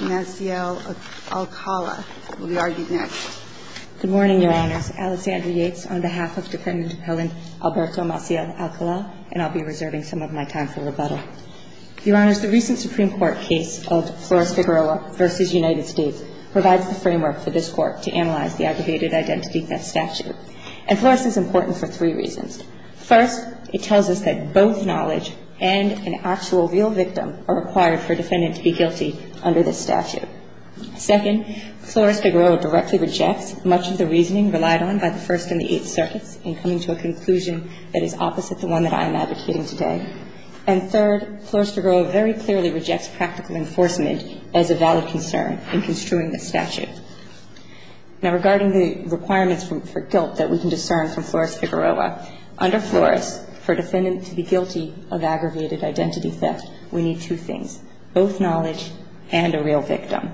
will be argued next. Good morning, Your Honors. Alessandra Yates on behalf of Defendant Appellant Alberto Maciel-Alcala, and I'll be reserving some of my time for rebuttal. Your Honors, the recent Supreme Court case of Flores Figueroa v. United States provides the framework for this Court to analyze the Aggravated Identity Theft Statute. And Flores is important for three reasons. First, it tells us that both knowledge and an actual real victim are required for a defendant to be guilty under this statute. Second, it tells us that the defendant is not guilty under this statute. Second, Flores Figueroa directly rejects much of the reasoning relied on by the First and the Eighth Circuits in coming to a conclusion that is opposite the one that I am advocating today. And third, Flores Figueroa very clearly rejects practical enforcement as a valid concern in construing this statute. Now, regarding the requirements for guilt that we can discern from Flores Figueroa, under Flores, for a defendant to be guilty of Aggravated Identity Theft, we need two things, both knowledge and a real victim.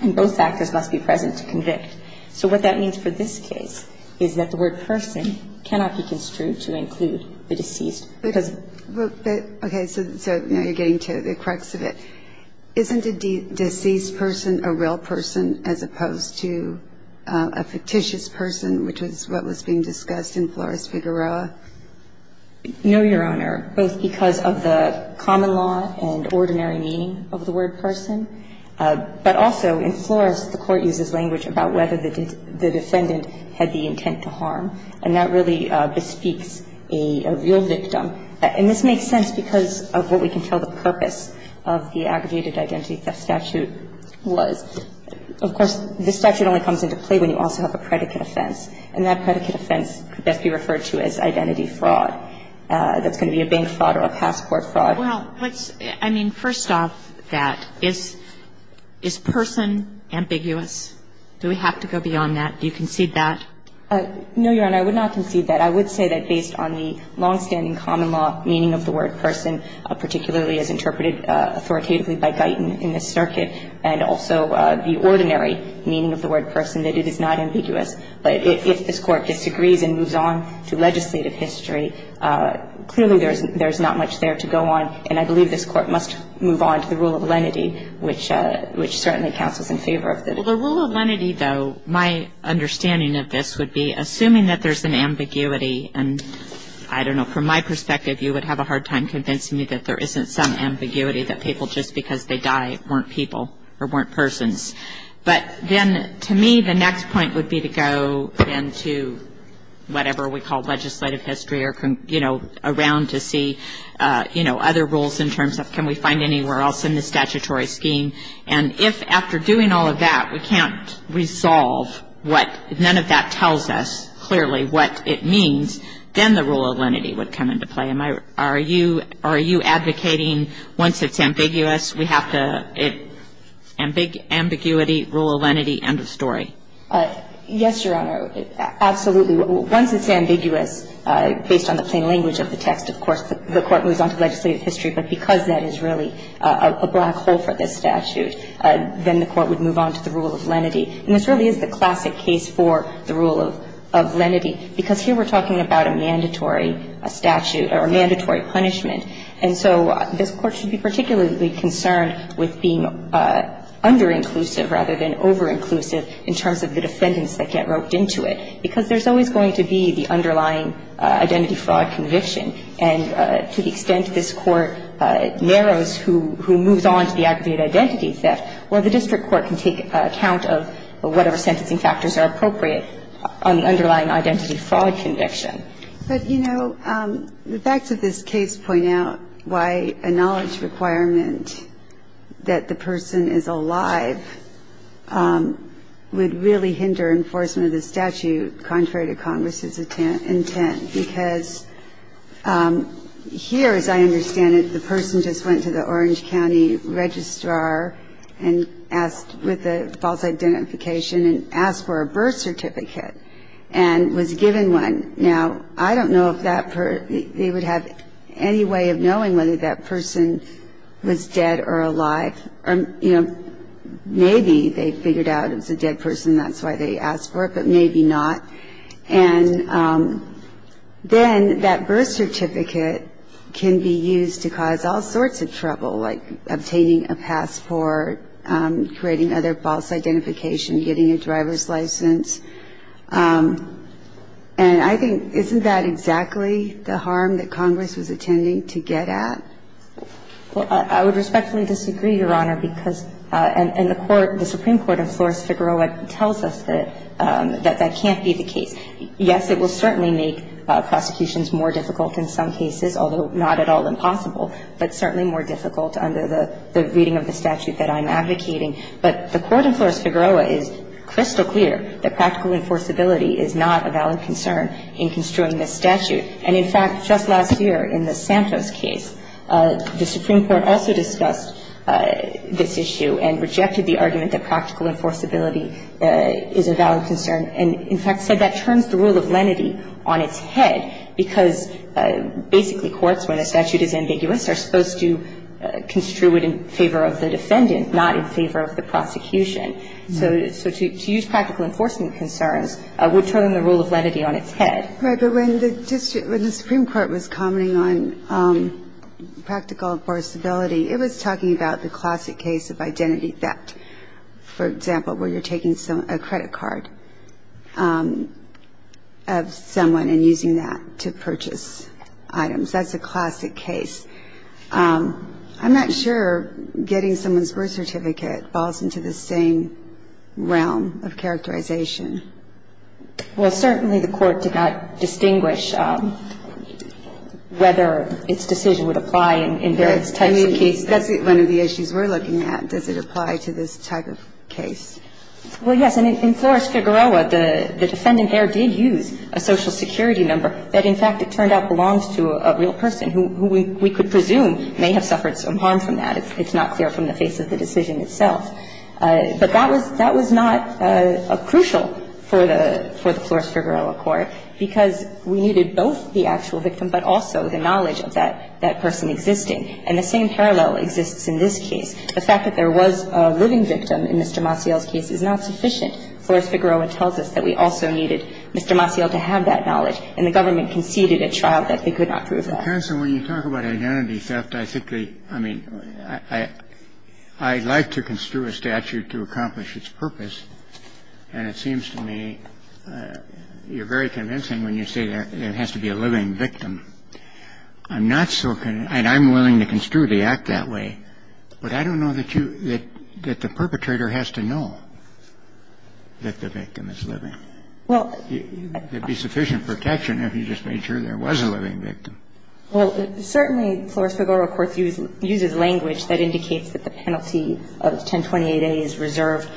And both factors must be present to convict. So what that means for this case is that the word person cannot be construed to include the deceased. Because the – But, okay, so now you're getting to the crux of it. Isn't a deceased person a real person as opposed to a fictitious person, which is what was being discussed in Flores Figueroa? No, Your Honor, both because of the common law and ordinary meaning of the word person. But also, in Flores, the Court uses language about whether the defendant had the intent to harm. And that really bespeaks a real victim. And this makes sense because of what we can tell the purpose of the Aggravated Identity Theft statute was. Of course, this statute only comes into play when you also have a predicate offense. And that predicate offense could best be referred to as identity fraud. That's going to be a bank fraud or a passport fraud. Well, let's – I mean, first off that, is person ambiguous? Do we have to go beyond that? Do you concede that? No, Your Honor, I would not concede that. I would say that based on the longstanding common law meaning of the word person, particularly as interpreted authoritatively by Guyton in this circuit, and also the ordinary meaning of the word person, that it is not ambiguous. But if this Court disagrees and moves on to legislative history, clearly there's not much there to go on. And I believe this Court must move on to the rule of lenity, which certainly counts as in favor of the statute. Well, the rule of lenity, though, my understanding of this would be, assuming that there's an ambiguity, and I don't know, from my perspective, you would have a hard time convincing me that there isn't some ambiguity, that people just because they die weren't people or weren't persons. But then, to me, the next point would be to go into whatever we call legislative history or, you know, around to see, you know, other rules in terms of can we find anywhere else in the statutory scheme. And if, after doing all of that, we can't resolve what – none of that tells us clearly what it means, then the rule of lenity would come into play. Am I – are you advocating once it's ambiguous, we have to – ambiguity, rule of lenity, end of story? Yes, Your Honor. Absolutely. Once it's ambiguous, based on the plain language of the text, of course, the Court moves on to legislative history. But because that is really a black hole for this statute, then the Court would move on to the rule of lenity. And this really is the classic case for the rule of lenity, because here we're talking about a mandatory statute or a mandatory punishment. And so this Court should be particularly concerned with being under-inclusive rather than over-inclusive in terms of the defendants that get roped into it, because there's always going to be the underlying identity fraud conviction. And to the extent this Court narrows who moves on to the aggravated identity theft, well, the district court can take account of whatever sentencing factors are appropriate on the underlying identity fraud conviction. But, you know, the facts of this case point out why a knowledge requirement that the person is alive would really hinder enforcement of the statute contrary to Congress's intent. Because here, as I understand it, the person just went to the Orange County Registrar and asked with a false identification and asked for a birth certificate and was given one. Now, I don't know if that person they would have any way of knowing whether that person was dead or alive. You know, maybe they figured out it was a dead person, that's why they asked for it, but maybe not. And then that birth certificate can be used to cause all sorts of trouble, like obtaining a passport, creating other false identification, getting a driver's license. And I think isn't that exactly the harm that Congress was intending to get at? Well, I would respectfully disagree, Your Honor, because the Supreme Court, of course, Figueroa tells us that that can't be the case. Yes, it will certainly make prosecutions more difficult in some cases, although not at all impossible, but certainly more difficult under the reading of the statute that I'm advocating. But the Court in Flores-Figueroa is crystal clear that practical enforceability is not a valid concern in construing this statute. And, in fact, just last year in the Santos case, the Supreme Court also discussed this issue and rejected the argument that practical enforceability is a valid concern and, in fact, said that turns the rule of lenity on its head, because basically courts, when a statute is ambiguous, are supposed to construe it in favor of the defendant, not in favor of the prosecution. So to use practical enforcement concerns would turn the rule of lenity on its head. Right. But when the Supreme Court was commenting on practical enforceability, it was talking about the classic case of identity theft, for example, where you're taking a credit card of someone and using that to purchase items. That's a classic case. I'm not sure getting someone's birth certificate falls into the same realm of characterization. Well, certainly the Court did not distinguish whether its decision would apply in various types of cases. I mean, that's one of the issues we're looking at. Does it apply to this type of case? Well, yes. And in Flores-Figueroa, the defendant there did use a Social Security number that, in fact, it turned out belongs to a real person who we could presume may have suffered some harm from that. It's not clear from the face of the decision itself. But that was not crucial for the Flores-Figueroa court, because we needed both the actual victim, but also the knowledge of that person existing. And the same parallel exists in this case. The fact that there was a living victim in Mr. Maciel's case is not sufficient. Flores-Figueroa tells us that we also needed Mr. Maciel to have that knowledge, and the government conceded at trial that they could not prove that. Counsel, when you talk about identity theft, I think the – I mean, I'd like to construe a statute to accomplish its purpose, and it seems to me you're very convincing when you say that it has to be a living victim. I'm not so – and I'm willing to construe the act that way. But I don't know that you – that the perpetrator has to know that the victim is living. There'd be sufficient protection if you just made sure there was a living victim. Well, certainly Flores-Figueroa court uses language that indicates that the penalty of 1028A is reserved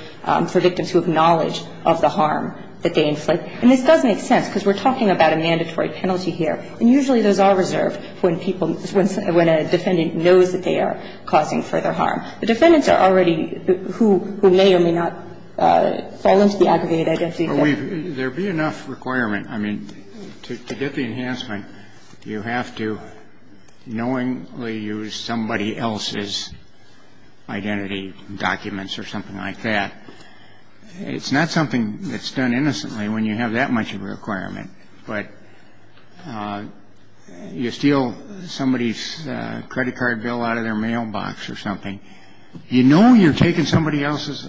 for victims who have knowledge of the harm that they inflict. And this does make sense, because we're talking about a mandatory penalty here. And usually those are reserved when people – when a defendant knows that they are causing further harm. The defendants are already – who may or may not fall into the aggregated identity theft. There'd be enough requirement. I mean, to get the enhancement, you have to knowingly use somebody else's identity documents or something like that. It's not something that's done innocently when you have that much of a requirement. But you steal somebody's credit card bill out of their mailbox or something. You know you're taking somebody else's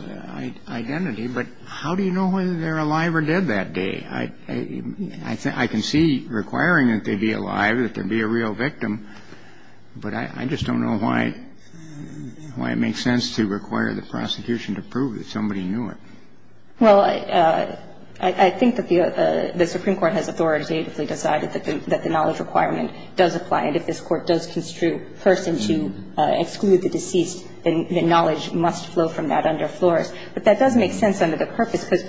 identity, but how do you know whether they're alive or dead that day? I can see requiring that they be alive, that there be a real victim, but I just don't know why it makes sense to require the prosecution to prove that somebody knew it. Well, I think that the Supreme Court has authoritatively decided that the knowledge requirement does apply, and if this Court does construe person to exclude the deceased, then the knowledge must flow from that under floris. But that does make sense under the purpose, because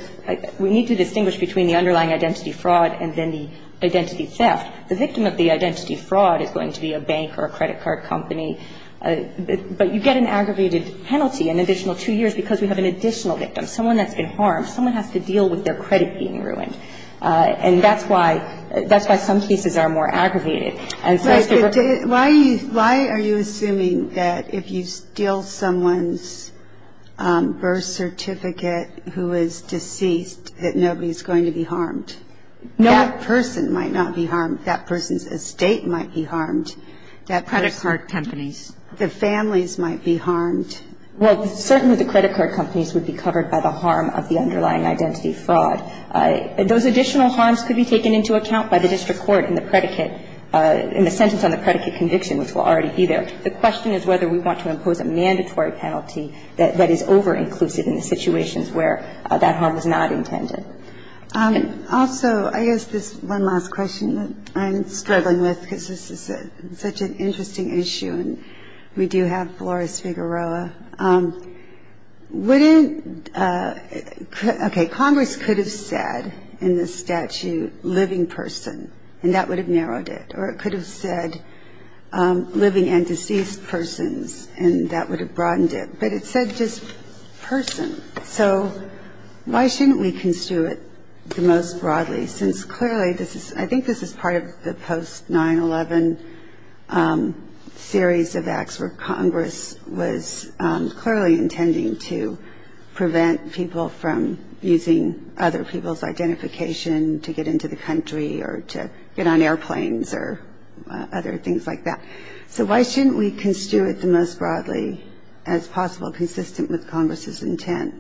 we need to distinguish between the underlying identity fraud and then the identity theft. The victim of the identity fraud is going to be a bank or a credit card company. But you get an aggregated penalty, an additional two years, because we have an additional victim, someone that's been harmed. Someone has to deal with their credit being ruined. And that's why some cases are more aggravated. And so it's going to work. But why are you assuming that if you steal someone's birth certificate who is deceased that nobody's going to be harmed? No. That person might not be harmed. Credit card companies. The families might be harmed. Well, certainly the credit card companies would be covered by the harm of the underlying identity fraud. Those additional harms could be taken into account by the district court in the predicate in the sentence on the predicate conviction, which will already be there. The question is whether we want to impose a mandatory penalty that is over-inclusive in the situations where that harm is not intended. Also, I guess this one last question that I'm struggling with, because this is such an interesting issue, and we do have Flores Figueroa. Wouldn't – okay, Congress could have said in the statute living person, and that would have narrowed it. Or it could have said living and deceased persons, and that would have broadened it. But it said just person. So why shouldn't we construe it the most broadly? Since clearly this is – I think this is part of the post-9-11 series of acts where Congress was clearly intending to prevent people from using other people's identification to get into the country or to get on airplanes or other things like that. So why shouldn't we construe it the most broadly as possible, consistent with Congress's intent?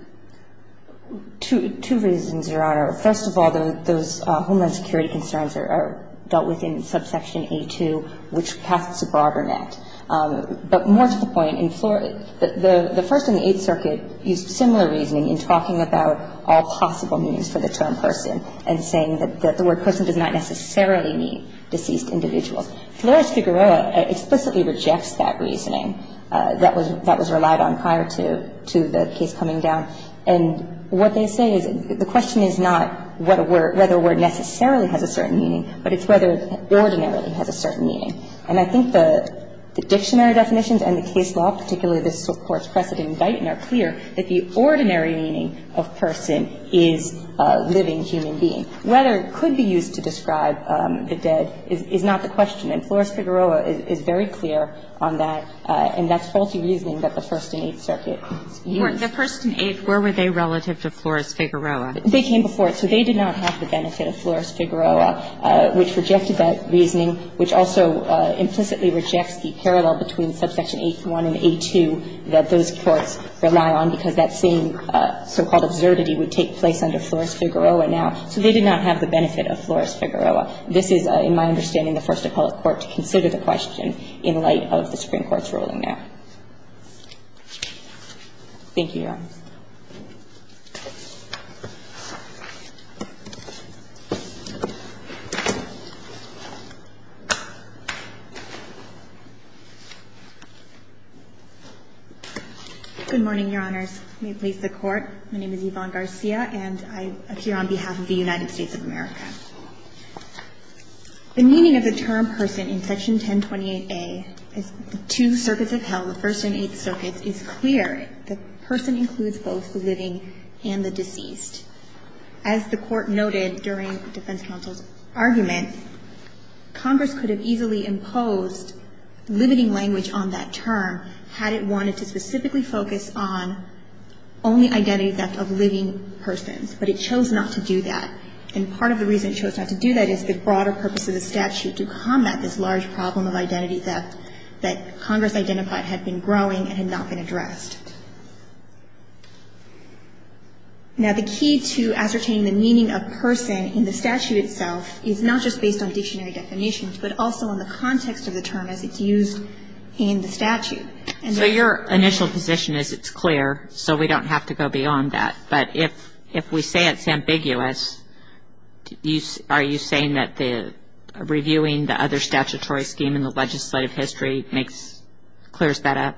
Two reasons, Your Honor. First of all, those homeland security concerns are dealt with in subsection A-2, which casts a broader net. But more to the point, in Flores – the First and the Eighth Circuit used similar reasoning in talking about all possible means for the term person and saying that the word person does not necessarily mean deceased individuals. Flores Figueroa explicitly rejects that reasoning that was relied on prior to the case coming down. And what they say is the question is not what a word – whether a word necessarily has a certain meaning, but it's whether ordinarily has a certain meaning. And I think the dictionary definitions and the case law, particularly this Court's precedent in Dighton, are clear that the ordinary meaning of person is a living human being. Whether it could be used to describe the dead is not the question. And Flores Figueroa is very clear on that, and that's faulty reasoning that the First and the Eighth Circuit used. Where were they relative to Flores Figueroa? They came before. So they did not have the benefit of Flores Figueroa, which rejected that reasoning, which also implicitly rejects the parallel between subsection A-1 and A-2 that those courts rely on, because that same so-called absurdity would take place under Flores Figueroa now. So they did not have the benefit of Flores Figueroa. This is, in my understanding, the first appellate court to consider the question in light of the Supreme Court's ruling there. Thank you, Your Honor. Good morning, Your Honors. May it please the Court. My name is Yvonne Garcia, and I appear on behalf of the United States of America. The meaning of the term person in Section 1028A, as the two circuits have held, the First and the Eighth Circuits, is clear. The person includes both the living and the deceased. As the Court noted during the defense counsel's argument, Congress could have easily imposed limiting language on that term had it wanted to specifically focus on only identity theft of living persons, but it chose not to do that. And part of the reason it chose not to do that is the broader purpose of the statute to combat this large problem of identity theft that Congress identified had been growing and had not been addressed. Now, the key to ascertaining the meaning of person in the statute itself is not just based on dictionary definitions, but also on the context of the term as it's used in the statute. So your initial position is it's clear, so we don't have to go beyond that. But if we say it's ambiguous, are you saying that the reviewing the other statutory scheme in the legislative history makes, clears that up?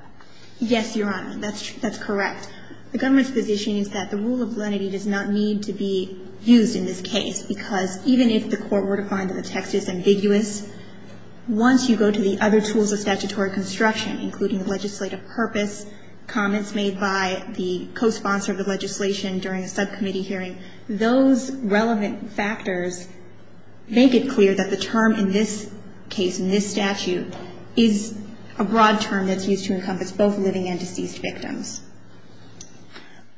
Yes, Your Honor. That's correct. The government's position is that the rule of lenity does not need to be used in this case, because even if the court were to find that the text is ambiguous, once you go to the other tools of statutory construction, including legislative purpose, comments made by the cosponsor of the legislation during a subcommittee hearing, those relevant factors make it clear that the term in this case, in this statute, is a broad term that's used to encompass both living and deceased victims.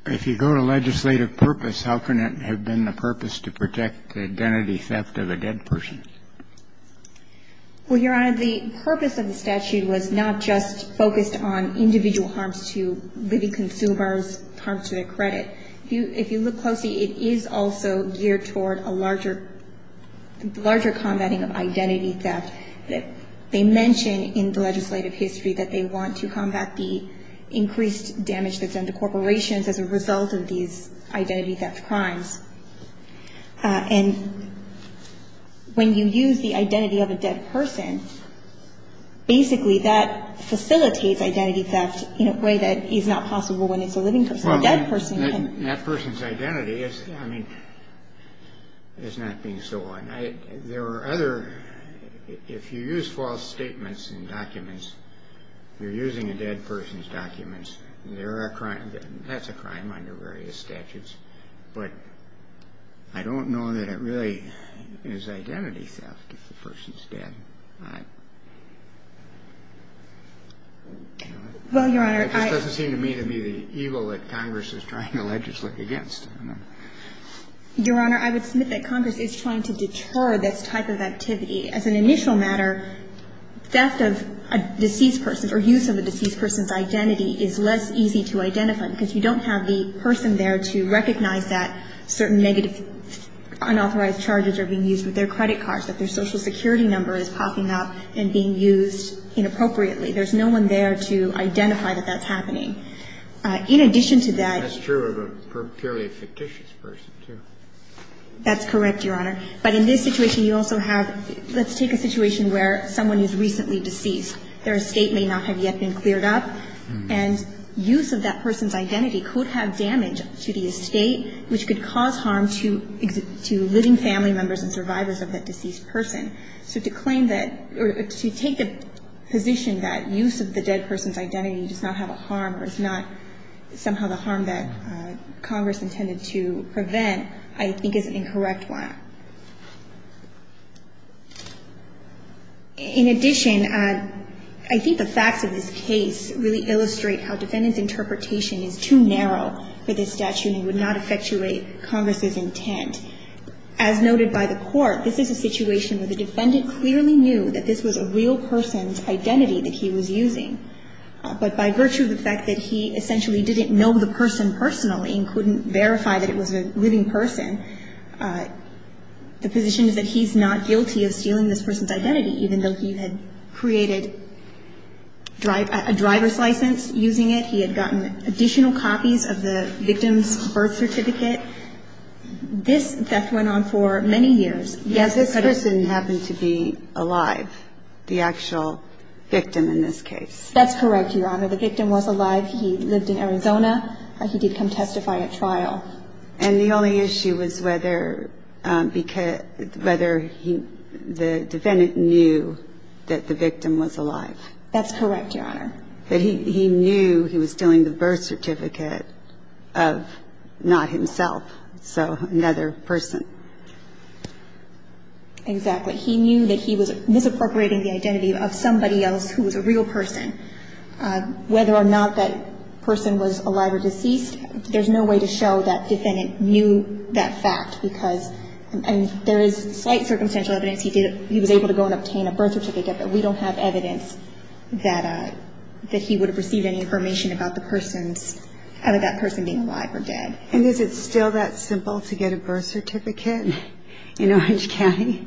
If you go to legislative purpose, how can it have been the purpose to protect the identity theft of a dead person? Well, Your Honor, the purpose of the statute was not just focused on individual harms to living consumers, harms to their credit. If you look closely, it is also geared toward a larger, larger combating of identity theft. They mention in the legislative history that they want to combat the increased damage that's done to corporations as a result of these identity theft crimes. And when you use the identity of a dead person, basically that facilitates identity theft in a way that is not possible when it's a living person. A dead person can't. Well, that person's identity is, I mean, is not being stolen. There are other, if you use false statements in documents, you're using a dead person's documents, there are crimes, that's a crime under various statutes. But I don't know that it really is identity theft if the person's dead. Well, Your Honor, I — It just doesn't seem to me to be the evil that Congress is trying to legislate against. I don't know. Your Honor, I would submit that Congress is trying to deter this type of activity. As an initial matter, theft of a deceased person or use of a deceased person's identity is less easy to identify because you don't have the person there to recognize that certain negative unauthorized charges are being used with their credit cards, that their Social Security number is popping up and being used inappropriately. There's no one there to identify that that's happening. In addition to that — That's true of a purely fictitious person, too. That's correct, Your Honor. But in this situation, you also have — let's take a situation where someone is recently deceased. Their estate may not have yet been cleared up, and use of that person's identity could have damage to the estate, which could cause harm to living family members and survivors of that deceased person. So to claim that — or to take the position that use of the dead person's identity does not have a harm or is not somehow the harm that Congress intended to prevent, I think is an incorrect one. In addition, I think the facts of this case really illustrate how defendants' interpretation is too narrow for this statute and would not effectuate Congress's intent. As noted by the Court, this is a situation where the defendant clearly knew that this was a real person's identity that he was using. But by virtue of the fact that he essentially didn't know the person personally and couldn't verify that it was a living person, the position is that he's not guilty of stealing this person's identity, even though he had created a driver's license using it. He had gotten additional copies of the victim's birth certificate. This theft went on for many years. Yes, this person happened to be alive, the actual victim in this case. That's correct, Your Honor. The victim was alive. He lived in Arizona. He did come testify at trial. And the only issue was whether the defendant knew that the victim was alive. That's correct, Your Honor. But he knew he was stealing the birth certificate of not himself, so another person. Exactly. He knew that he was misappropriating the identity of somebody else who was a real person. Whether or not that person was alive or deceased, there's no way to show that defendant knew that fact, because there is slight circumstantial evidence he was able to go and obtain a birth certificate, but we don't have evidence that he would have received any information about that person being alive or dead. And is it still that simple to get a birth certificate in Orange County?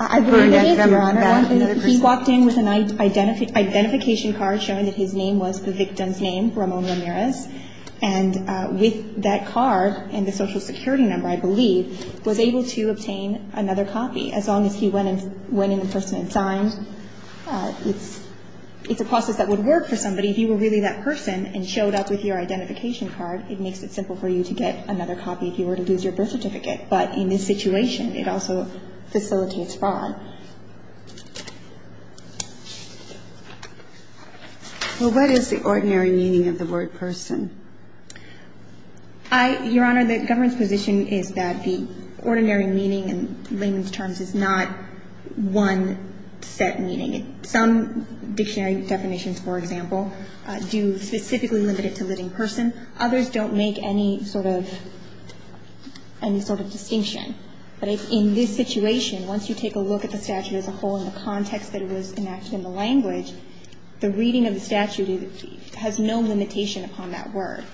I believe it is, Your Honor. He walked in with an identification card showing that his name was the victim's name, Ramon Ramirez, and with that card and the Social Security number, I believe, was able to It's a process that would work for somebody. If you were really that person and showed up with your identification card, it makes it simple for you to get another copy if you were to lose your birth certificate. But in this situation, it also facilitates fraud. Well, what is the ordinary meaning of the word person? I, Your Honor, the government's position is that the ordinary meaning in layman's terms is not one set meaning. Some dictionary definitions, for example, do specifically limit it to living person. Others don't make any sort of distinction. But in this situation, once you take a look at the statute as a whole and the context that it was enacted in the language, the reading of the statute has no limitation upon that word.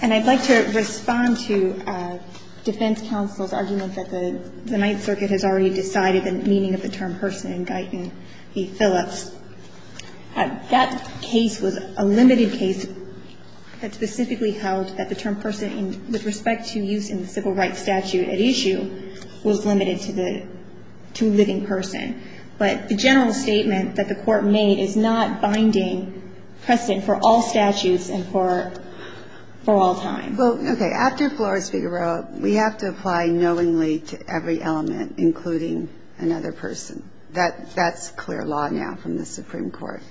And I'd like to respond to defense counsel's argument that the Ninth Circuit has already decided the meaning of the term person in Guyton v. Phillips. That case was a limited case that specifically held that the term person with respect to use in the civil rights statute at issue was limited to the – to living person. But the general statement that the court made is not binding precedent for all statutes and for all time. Well, okay, after Flores v. Roeb, we have to apply knowingly to every element, including another person. That's clear law now from the Supreme Court.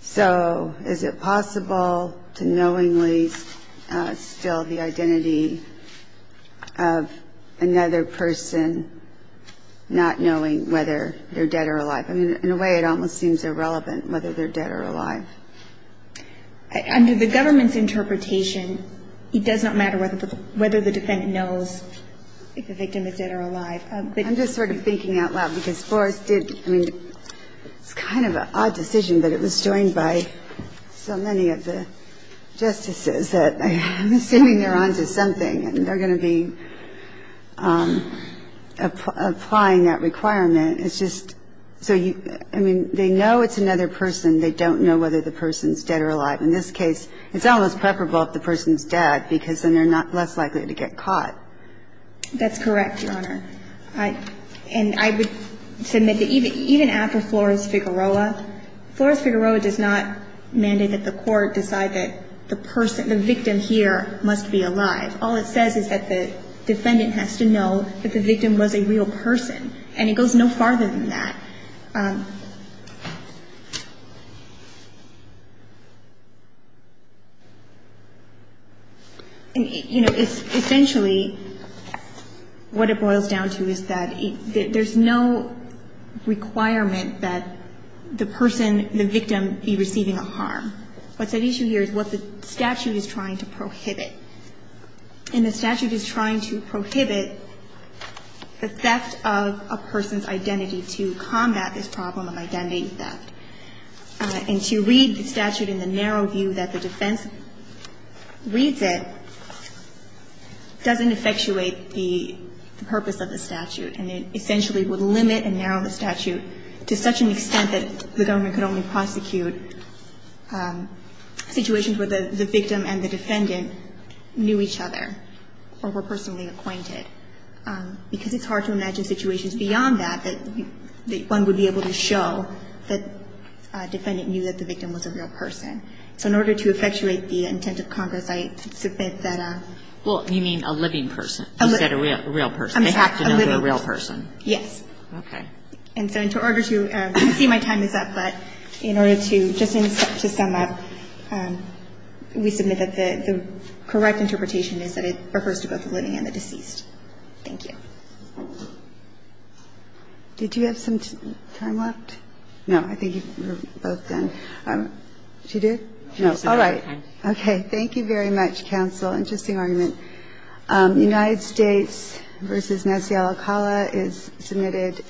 So is it possible to knowingly still the identity of another person not knowing whether they're dead or alive? I mean, in a way, it almost seems irrelevant whether they're dead or alive. Under the government's interpretation, it does not matter whether the defendant knows if the victim is dead or alive. I'm just sort of thinking out loud because Flores did – I mean, it's kind of an odd decision, but it was joined by so many of the justices that I'm assuming they're going to be applying that requirement. It's just – so, I mean, they know it's another person. They don't know whether the person's dead or alive. In this case, it's almost preferable if the person's dead because then they're less likely to get caught. That's correct, Your Honor. And I would submit that even after Flores v. Roeb, Flores v. Roeb does not mandate that the court decide that the person – the victim here must be alive. All it says is that the defendant has to know that the victim was a real person, and it goes no farther than that. Essentially, what it boils down to is that there's no requirement that the person, the victim, be receiving a harm. What's at issue here is what the statute is trying to prohibit. And the statute is trying to prohibit the theft of a person's identity to combat this problem of identity theft. And to read the statute in the narrow view that the defense reads it doesn't effectuate the purpose of the statute, and it essentially would limit and narrow the statute to such an extent that the government could only prosecute situations where the victim and the defendant knew each other or were personally acquainted. Because it's hard to imagine situations beyond that that one would be able to show that a defendant knew that the victim was a real person. So in order to effectuate the intent of Congress, I submit that a – Well, you mean a living person instead of a real person. A living person. They have to know they're a real person. Okay. And so in order to – I see my time is up, but in order to – just to sum up, we submit that the correct interpretation is that it refers to both the living and the deceased. Thank you. Did you have some time left? No. I think we're both done. Did you do it? No. All right. Okay. Thank you very much, counsel. Interesting argument. United States v. Nancy Alicala is submitted.